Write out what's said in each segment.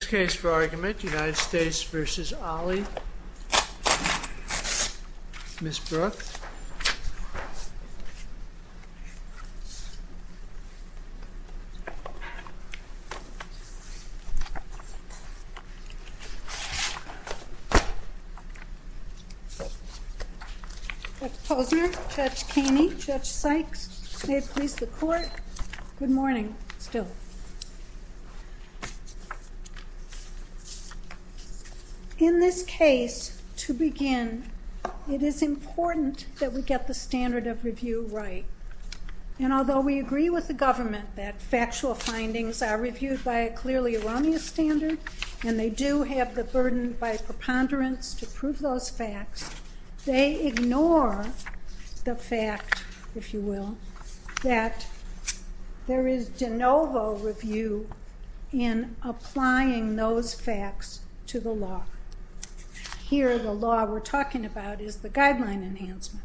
This case for argument United States v. Ali Ms. Brooke Judge Posner, Judge Keeney, Judge Sykes, State Police, the Court Good morning still. In this case, to begin, it is important that we get the standard of review right. And although we agree with the government that factual findings are reviewed by a clearly erroneous standard, and they do have the burden by preponderance to prove those facts, they ignore the fact, if you will, that there is de novo review in applying those facts to the law. Here, the law we're talking about is the guideline enhancement.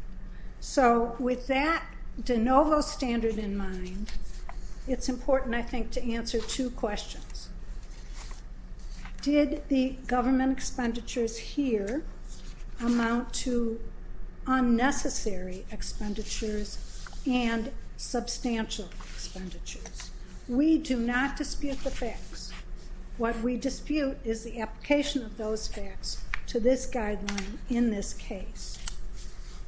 So with that de novo standard in mind, it's important, I think, to answer two questions. First, did the government expenditures here amount to unnecessary expenditures and substantial expenditures? We do not dispute the facts. What we dispute is the application of those facts to this guideline in this case.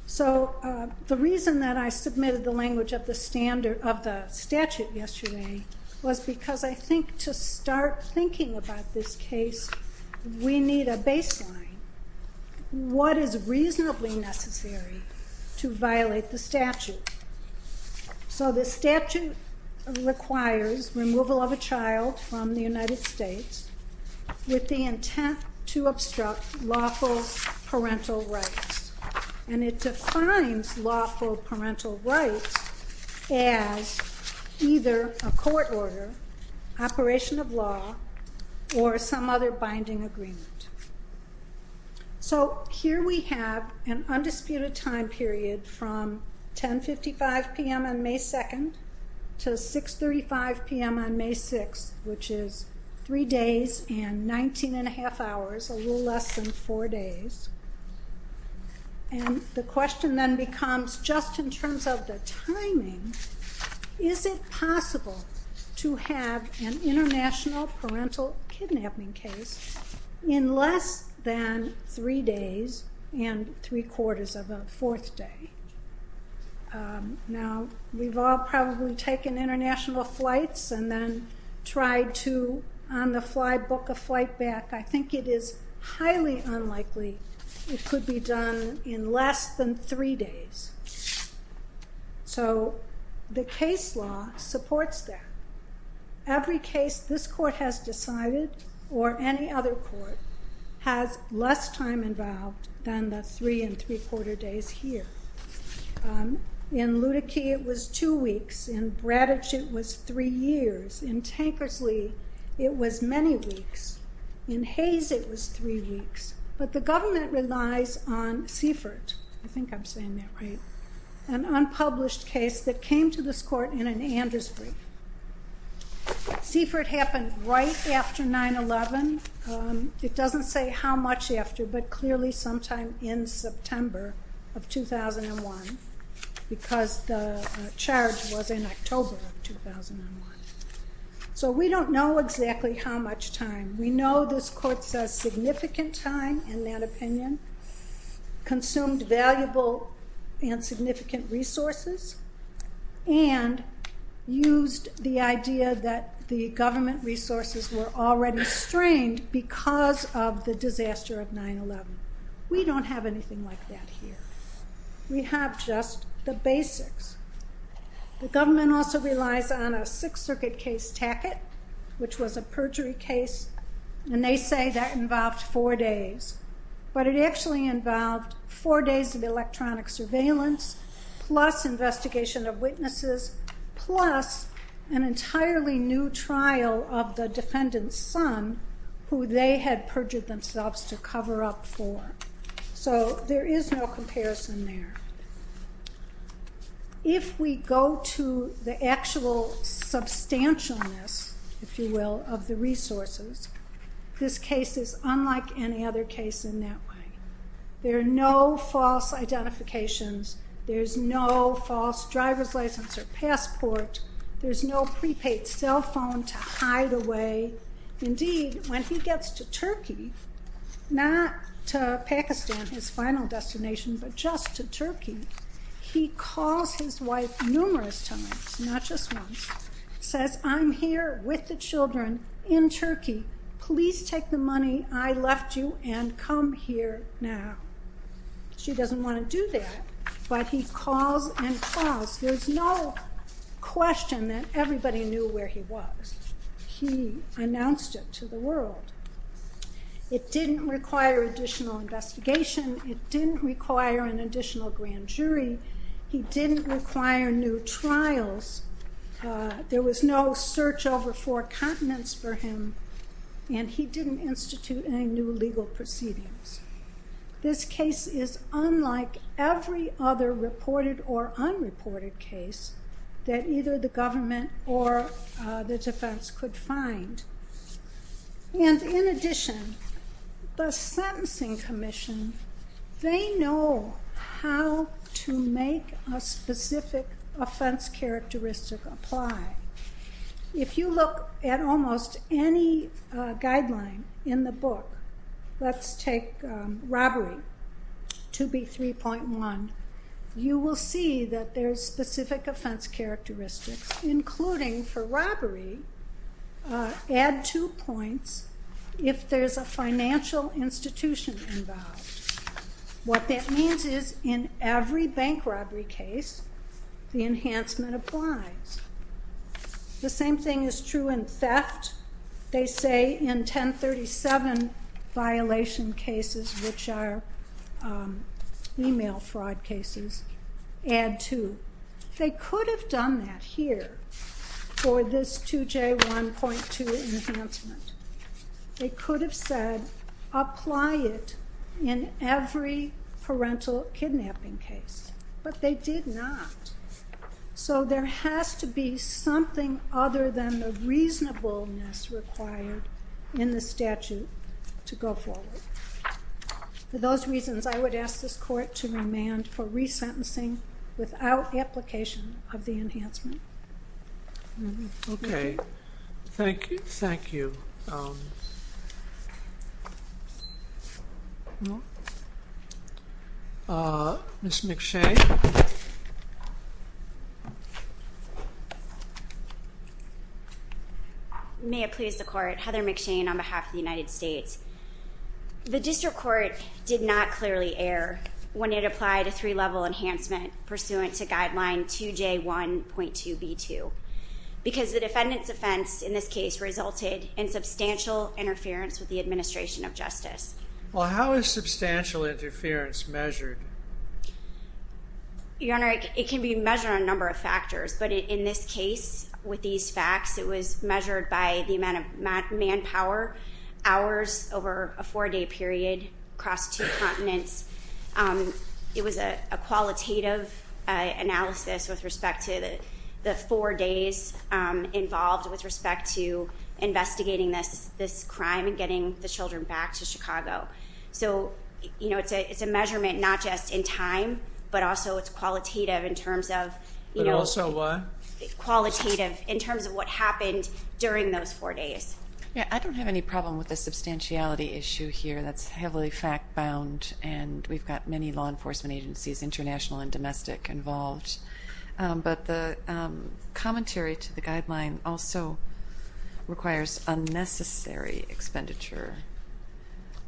So the reason that I submitted the language of the statute yesterday was because I think to start thinking about this case, we need a baseline. What is reasonably necessary to violate the statute? So the statute requires removal of a child from the United States with the intent to obstruct lawful parental rights. And it defines lawful parental rights as either a court order, operation of law, or some other binding agreement. So here we have an undisputed time period from 10.55 p.m. on May 2nd to 6.35 p.m. on May 6th, which is three days and 19.5 hours, a little less than four days. And the question then becomes, just in terms of the timing, is it possible to have an international parental kidnapping case in less than three days and three-quarters of a fourth day? Now, we've all probably taken international flights and then tried to on the unlikely, it could be done in less than three days. So the case law supports that. Every case this court has decided or any other court has less time involved than the three and three-quarter days here. In Ludeke, it was two weeks. In Bradditch, it was three weeks. But the government relies on Seifert, I think I'm saying that right, an unpublished case that came to this court in an Andrews brief. Seifert happened right after 9-11. It doesn't say how much after, but clearly sometime in September of 2001, because the charge was in October of 2001. So we don't know exactly how much time. We know this court says significant time in that opinion, consumed valuable and significant resources, and used the idea that the government resources were already strained because of the disaster of 9-11. We don't have anything like that here. We have just the basics. The government also relies on a Sixth Circuit case, Tackett, which was a perjury case. And they say that involved four days. But it actually involved four days of electronic surveillance, plus investigation of witnesses, plus an entirely new trial of the defendant's son, who they had perjured themselves to cover up for. So there is no comparison there. If we go to the actual substantialness, if you will, of the resources, this case is unlike any other case in that way. There are no false identifications. There's no false driver's license or passport. There's no prepaid cell phone to hide away. Indeed, when he gets to Turkey, he calls his wife numerous times, not just once, says, I'm here with the children in Turkey. Please take the money I left you and come here now. She doesn't want to do that. But he calls and calls. There's no question that everybody knew where he was. He announced it to the world. It didn't require additional investigation. It didn't require an additional grand jury. He didn't require new trials. There was no search over four continents for him. And he didn't institute any new legal proceedings. This case is unlike every other reported or unreported case that either the government or the defense could find. And in addition, the Sentencing Commission, they know how to make a specific offense characteristic apply. If you look at almost any guideline in the book, let's take robbery to be 3.1, you will see that there's specific offense characteristics, including for robbery, add two points if there's a financial institution involved. What that means is in every bank robbery case, the enhancement applies. The same thing is true in theft. They say in 1037 violation cases, which are female fraud cases, add two. They could have done that here for this 2J1.2 enhancement. They could have said apply it in every parental kidnapping case. But they did not. So there has to be something other than the reasonableness required in the statute to go forward. For those reasons, I would ask this court to remand for resentencing without application of the enhancement. Okay. Thank you. Thank you. Ms. McShane. May it please the court. Heather McShane on behalf of the United States. The district court did not clearly err when it applied a three-level enhancement pursuant to guideline 2J1.2b2 because the defendant's offense in this case resulted in substantial interference with the administration of justice. Well, how is substantial interference measured? Your Honor, it can be measured on a number of factors. But in this case, with these facts, it was measured by the amount of manpower, hours over a four-day period across two continents. It was a qualitative analysis with respect to the four days involved with respect to getting the children back to Chicago. So it's a measurement not just in time, but also it's qualitative in terms of what happened during those four days. I don't have any problem with the substantiality issue here. That's heavily fact-bound and we've got many law enforcement agencies, international and domestic, involved. But the commentary to the guideline also requires unnecessary expenditure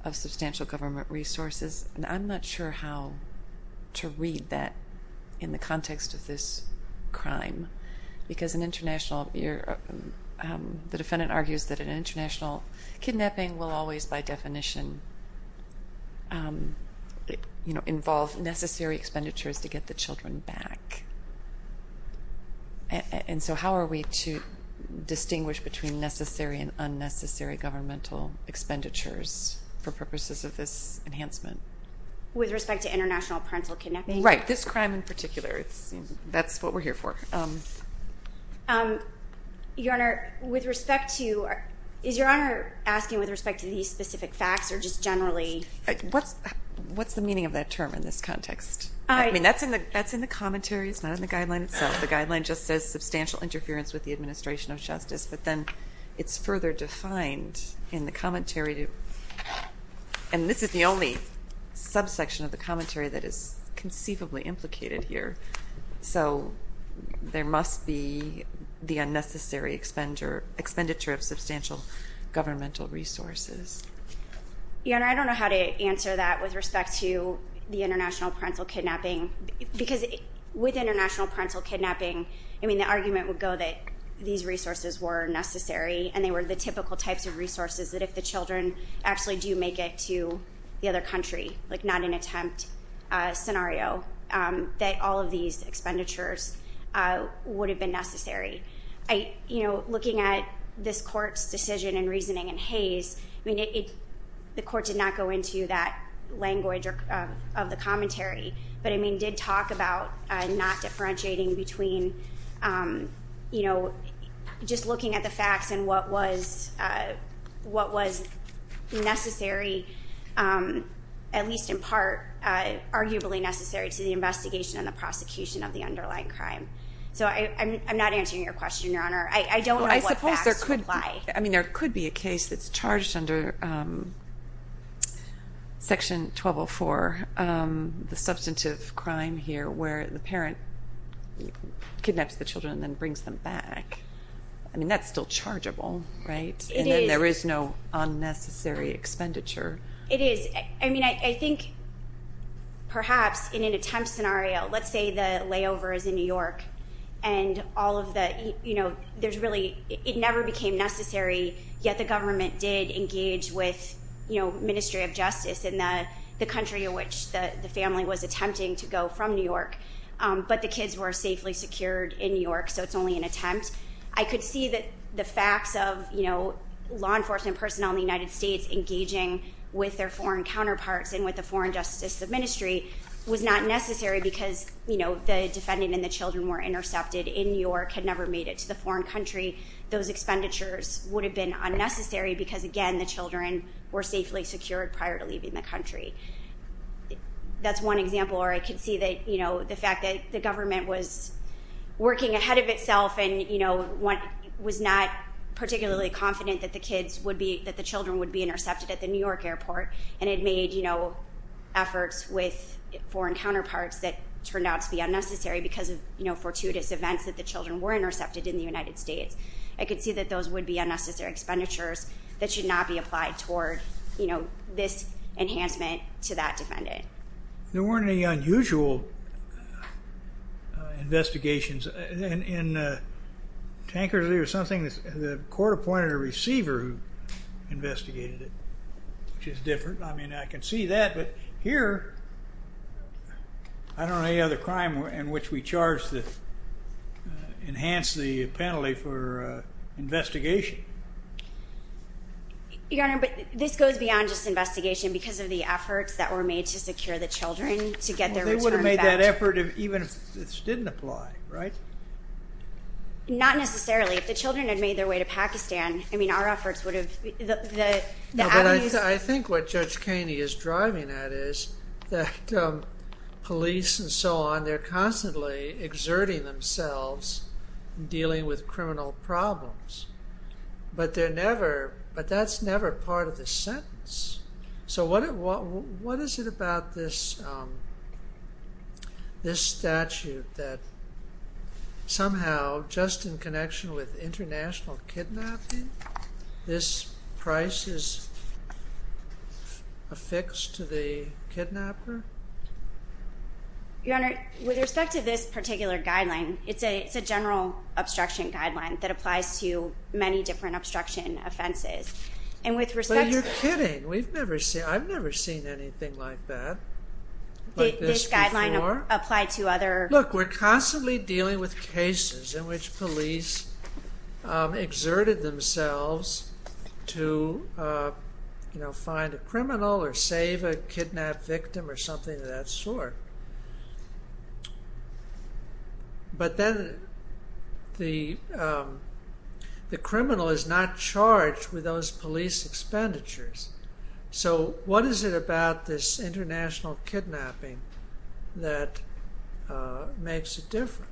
of substantial government resources. And I'm not sure how to read that in the context of this crime because the defendant argues that an international kidnapping will always, by definition, involve necessary expenditures to get the children back. And so how are we to distinguish between necessary and unnecessary governmental expenditures for purposes of this enhancement? With respect to international parental kidnapping? Right. This crime in particular. That's what we're here for. Is Your Honor asking with respect to these specific facts or just generally? What's the meaning of that term in this context? That's in the commentary, it's not in the guideline itself. The guideline just says substantial interference with the administration of justice, but then it's further defined in the commentary. And this is the only subsection of the commentary that is conceivably implicated here. So there must be the unnecessary expenditure of substantial governmental resources. Your Honor, I don't know how to answer that with respect to the international parental kidnapping. Because with international parental kidnapping, the argument would go that these resources were necessary and they were the typical types of resources that if the children actually do make it to the other country, not an attempt scenario, that all of these expenditures would have been necessary. Looking at this Court's decision and reasoning in Hayes, the Court did not go into that language of the commentary, but it did talk about not differentiating between just looking at the facts and what was necessary, at least in part, arguably necessary to the investigation and the prosecution of the underlying crime. So I'm not answering your question, Your Honor. I don't know what facts would apply. I mean, there could be a case that's charged under Section 1204, the substantive crime here where the parent kidnaps the children and then brings them back. I mean, that's still chargeable, right? And then there is no unnecessary expenditure. It is. I mean, I think perhaps in an attempt scenario, let's say the layover is in New York and all of the, you know, there's really, it never became necessary, yet the government did engage with, you know, Ministry of Justice in the country in which the family was attempting to go from New York. But the kids were safely secured in New York, so it's only an attempt. I could see that the facts of, you know, law enforcement personnel in the United States engaging with their foreign counterparts and with the foreign justice ministry was not necessary because, you know, the defendant and the children were intercepted in New York and never made it to the foreign country. Those expenditures would have been unnecessary because, again, the children were safely secured prior to leaving the country. That's one example where I could see that, you know, the fact that the government was working ahead of itself and, you know, was not particularly confident that the kids would be, that the children would be intercepted at the New York airport and it made, you know, efforts with foreign counterparts that turned out to be unnecessary because of, you know, fortuitous events that the children were intercepted in the United States. I could see that those would be unnecessary expenditures that should not be applied toward, you know, this enhancement to that defendant. There weren't any unusual investigations. In Tankersley or something, the court appointed a receiver who investigated it, which is different. I mean, I could see that, but here, I don't know any other crime in which we charged that enhanced the penalty for investigation. Your Honor, but this goes beyond just investigation because of the efforts that were made to secure the children to get their return back. They would have made that effort even if this didn't apply, right? Not necessarily. If the children had made their way to Pakistan, I mean, our efforts would have, the avenues... No, but I think what Judge Kaney is driving at is that police and so on, they're constantly exerting themselves in dealing with criminal problems, but they're never, but that's never part of the sentence. So what is it about this statute that somehow, just in connection with international kidnapping, this price is affixed to the kidnapper? Your Honor, with respect to this particular guideline, it's a general obstruction guideline that applies to many different obstruction offenses, and with respect to... But you're kidding. We've never seen, I've never seen anything like that, like this before. Did this guideline apply to other... Look, we're constantly dealing with cases in which police exerted themselves to find a criminal or save a kidnapped victim or something of that sort, but then the criminal is not charged with those police executions. So what is it about this international kidnapping that makes it different?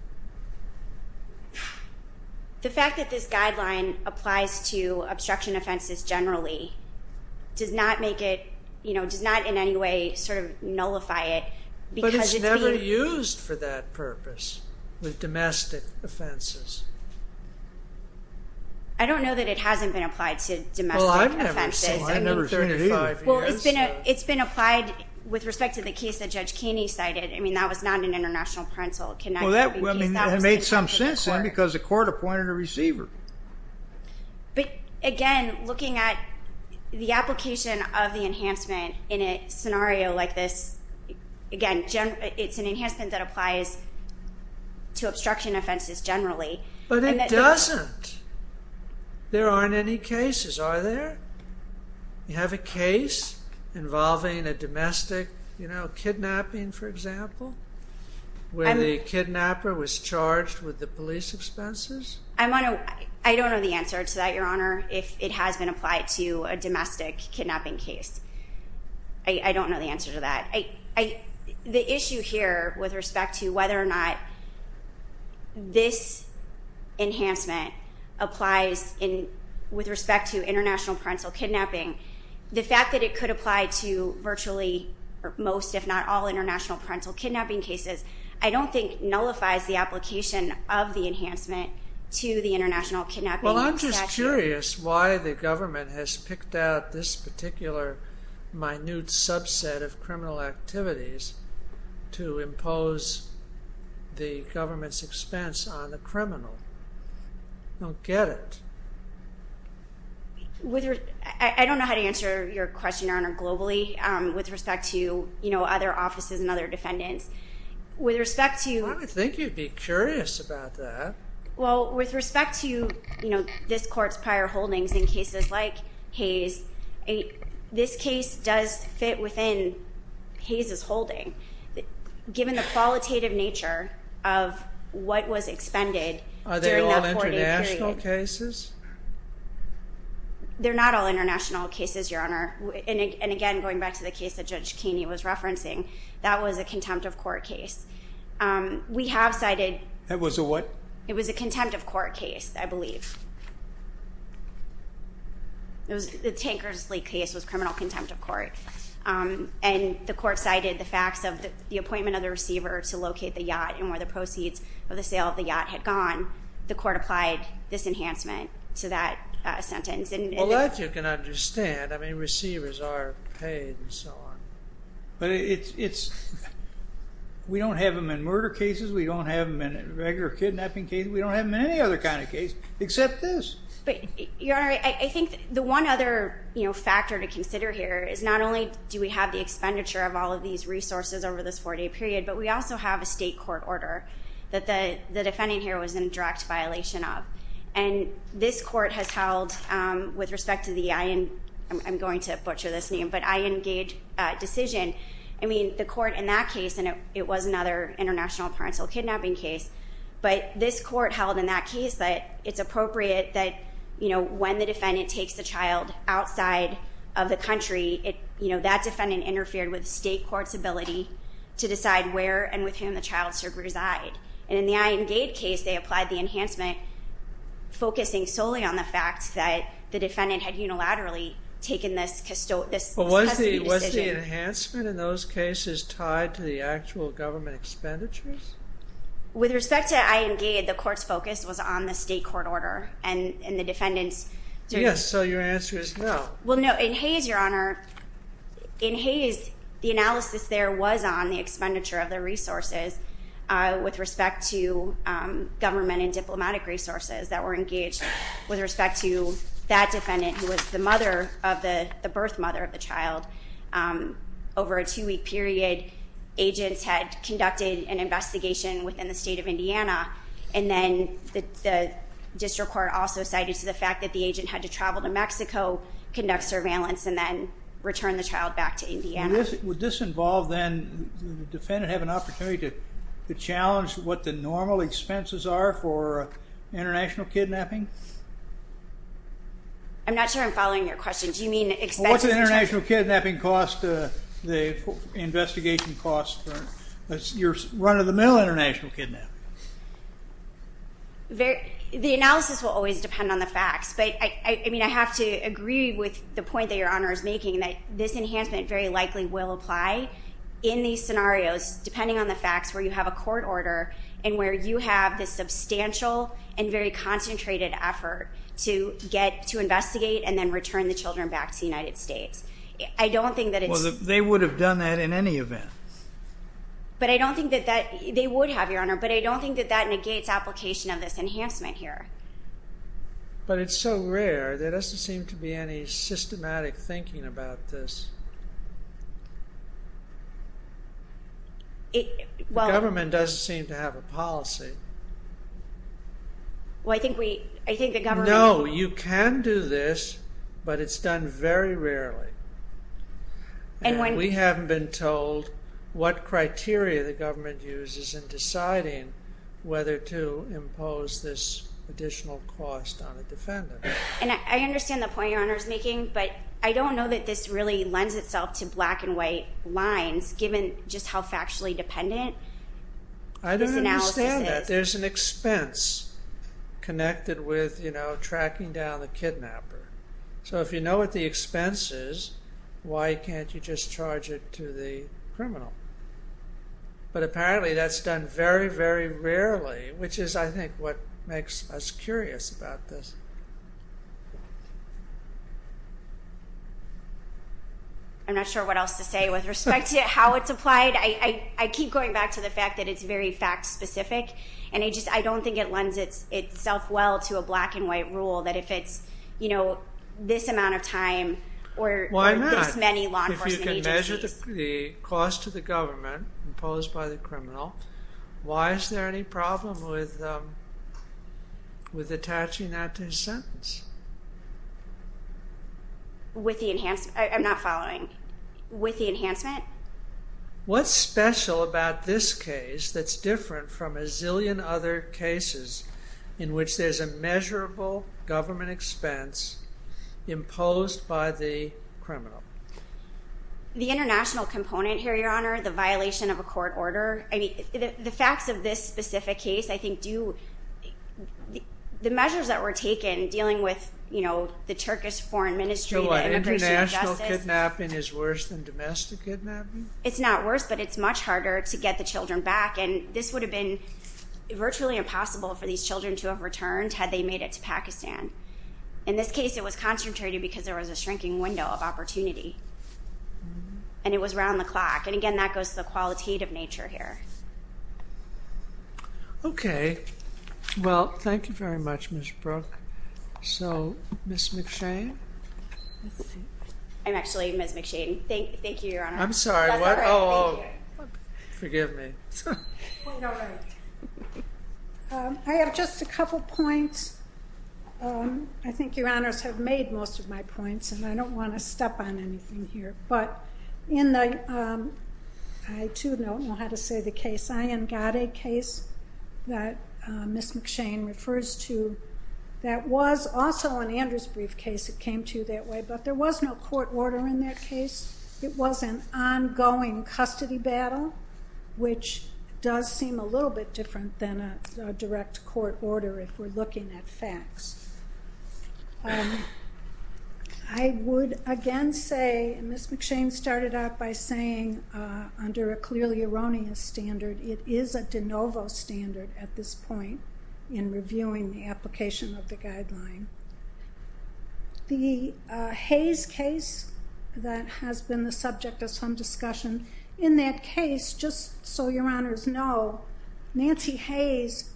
The fact that this guideline applies to obstruction offenses generally does not make it, you know, does not in any way sort of nullify it because it's being... But it's never used for that purpose with domestic offenses. I don't know that it hasn't been applied to domestic offenses. I've never seen it either. Well, it's been applied with respect to the case that Judge Keeney cited. I mean, that was not an international parental kidnapping case. Well, that made some sense then because the court appointed a receiver. But again, looking at the application of the enhancement in a scenario like this, again, it's an enhancement that applies to you have a case involving a domestic, you know, kidnapping, for example, where the kidnapper was charged with the police expenses. I don't know the answer to that, Your Honor, if it has been applied to a domestic kidnapping case. I don't know the answer to that. The issue here with respect to whether or not this enhancement applies with respect to international parental kidnapping, the fact that it could apply to virtually most, if not all, international parental kidnapping cases, I don't think nullifies the application of the enhancement to the international kidnapping statute. Well, I'm just curious why the government has picked out this particular minute subset of criminal activities to impose the government's expense on the criminal. I don't get it. I don't know how to answer your question, Your Honor, globally with respect to, you know, other offices and other defendants. With respect to... I would think you'd be curious about that. Well, with respect to, you know, this court's prior holdings in cases like Hayes, this case does fit within Hayes's holding. Given the qualitative nature of what was expended during that 40-period... Are they all international cases? They're not all international cases, Your Honor. And again, going back to the case that Judge Keeney was referencing, that was a contempt of court case. We have cited... That was a what? It was a contempt of court case, I believe. The Tankers Lake case was criminal contempt of court, and where the proceeds of the sale of the yacht had gone, the court applied this enhancement to that sentence. Well, that you can understand. I mean, receivers are paid and so on. But it's... We don't have them in murder cases. We don't have them in regular kidnapping cases. We don't have them in any other kind of case except this. But, Your Honor, I think the one other, you know, factor to consider here is not only do we have the expenditure of all of these resources over this 40-period, but we also have a state court order that the defendant here was in direct violation of. And this court has held, with respect to the... I'm going to butcher this name, but Iengage decision. I mean, the court in that case, and it was another international parental kidnapping case, but this court held in that case that it's appropriate that, you know, when the defendant takes the child outside of the country, you know, that defendant interfered with state court's ability to decide where and with whom the child should reside. And in the Iengage case, they applied the enhancement focusing solely on the fact that the defendant had unilaterally taken this custody decision. But was the enhancement in those cases tied to the actual government expenditures? With respect to Iengage, the court's focus was on the state court order and the defendant's... Yes, so your answer is no. Well, no. In Hayes, Your Honor, in Hayes, the analysis there was on the expenditure of their resources with respect to government and diplomatic resources that were engaged with respect to that defendant, who was the mother of the... the birth mother of the child. Over a two-week period, agents had conducted an investigation within the state of Indiana, and then the district court also cited to the fact that the agent had to travel to Mexico, conduct surveillance, and then return the child back to Indiana. Would this involve, then, the defendant have an opportunity to challenge what the normal expenses are for international kidnapping? I'm not sure I'm following your question. Do you mean expenses... Well, what's the international kidnapping cost, the investigation cost, your run-of-the-mill international kidnapping? The analysis will always depend on the facts, but I mean, I have to agree with the point that this enhancement very likely will apply in these scenarios, depending on the facts, where you have a court order and where you have this substantial and very concentrated effort to get... to investigate and then return the children back to the United States. I don't think that it's... Well, they would have done that in any event. But I don't think that that... they would have, Your Honor, but I don't think that that negates application of this enhancement here. But it's so rare, there doesn't seem to be any policy... Well... The government doesn't seem to have a policy. Well, I think we... I think the government... No, you can do this, but it's done very rarely. And we haven't been told what criteria the government uses in deciding whether to impose this additional cost on a defendant. And I understand the point Your Honor is making, but I don't know that this really lends itself to black and white lines, given just how factually dependent this analysis is. I don't understand that. There's an expense connected with, you know, tracking down the kidnapper. So if you know what the expense is, why can't you just charge it to the criminal? But apparently that's done very, very rarely, which is, I think, what makes us I'm not sure what else to say with respect to how it's applied. I keep going back to the fact that it's very fact-specific, and I just... I don't think it lends itself well to a black and white rule that if it's, you know, this amount of time or this many law enforcement agencies... If you can measure the cost to the government imposed by the criminal, why is there any problem with attaching that to his sentence? With the enhance... I'm not following. With the enhancement? What's special about this case that's different from a zillion other cases in which there's a measurable government expense imposed by the criminal? The international component here, Your Honor, the violation of a court order. I mean, the facts of this specific case, I think, do... The measures that were taken dealing with, you know, the Turkish foreign ministry and international kidnapping is worse than domestic kidnapping? It's not worse, but it's much harder to get the children back, and this would have been virtually impossible for these children to have returned had they made it to Pakistan. In this case, it was concentrated because there was a shrinking window of opportunity, and it was around the clock. And again, that goes to the very much, Ms. Brooke. So, Ms. McShane? I'm actually Ms. McShane. Thank you, Your Honor. I'm sorry, what? Oh, forgive me. I have just a couple points. I think Your Honors have made most of my points, and I don't want to step on anything here, but in the... I, too, don't know how to say the case. Ayan Gade case that Ms. McShane refers to, that was also an Andrews brief case that came to you that way, but there was no court order in that case. It was an ongoing custody battle, which does seem a little bit different than a direct court order if we're looking at facts. I would, again, say Ms. McShane started out by saying, under a clearly erroneous standard, it is a de novo standard at this point in reviewing the application of the guideline. The Hayes case that has been the subject of some discussion, in that case, just so Your Honors know, Nancy Hayes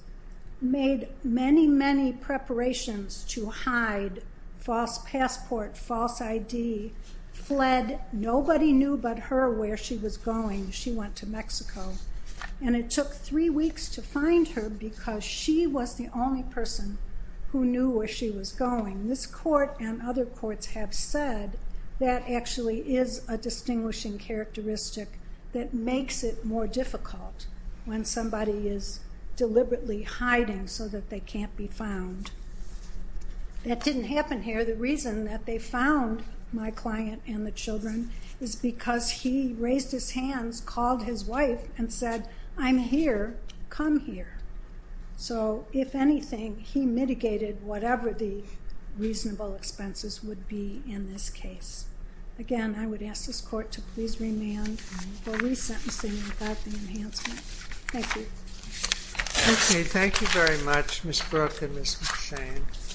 made many, many preparations to hide false passport, false ID, fled. Nobody knew but her where she was going. She went to Mexico, and it took three weeks to find her because she was the only person who knew where she was going. This court and other courts have said that actually is a distinguishing characteristic that makes it more difficult when somebody is deliberately hiding so that they can't be found. That didn't happen here. The reason that they found my client and the children is because he raised his hands, called his wife, and said, I'm here. Come here. So if anything, he mitigated whatever the reasonable expenses would be in this case. Again, I would ask this court to please remand for resentencing without the enhancement. Thank you. Okay. Thank you very much, Ms. Brooke and Ms. McShane.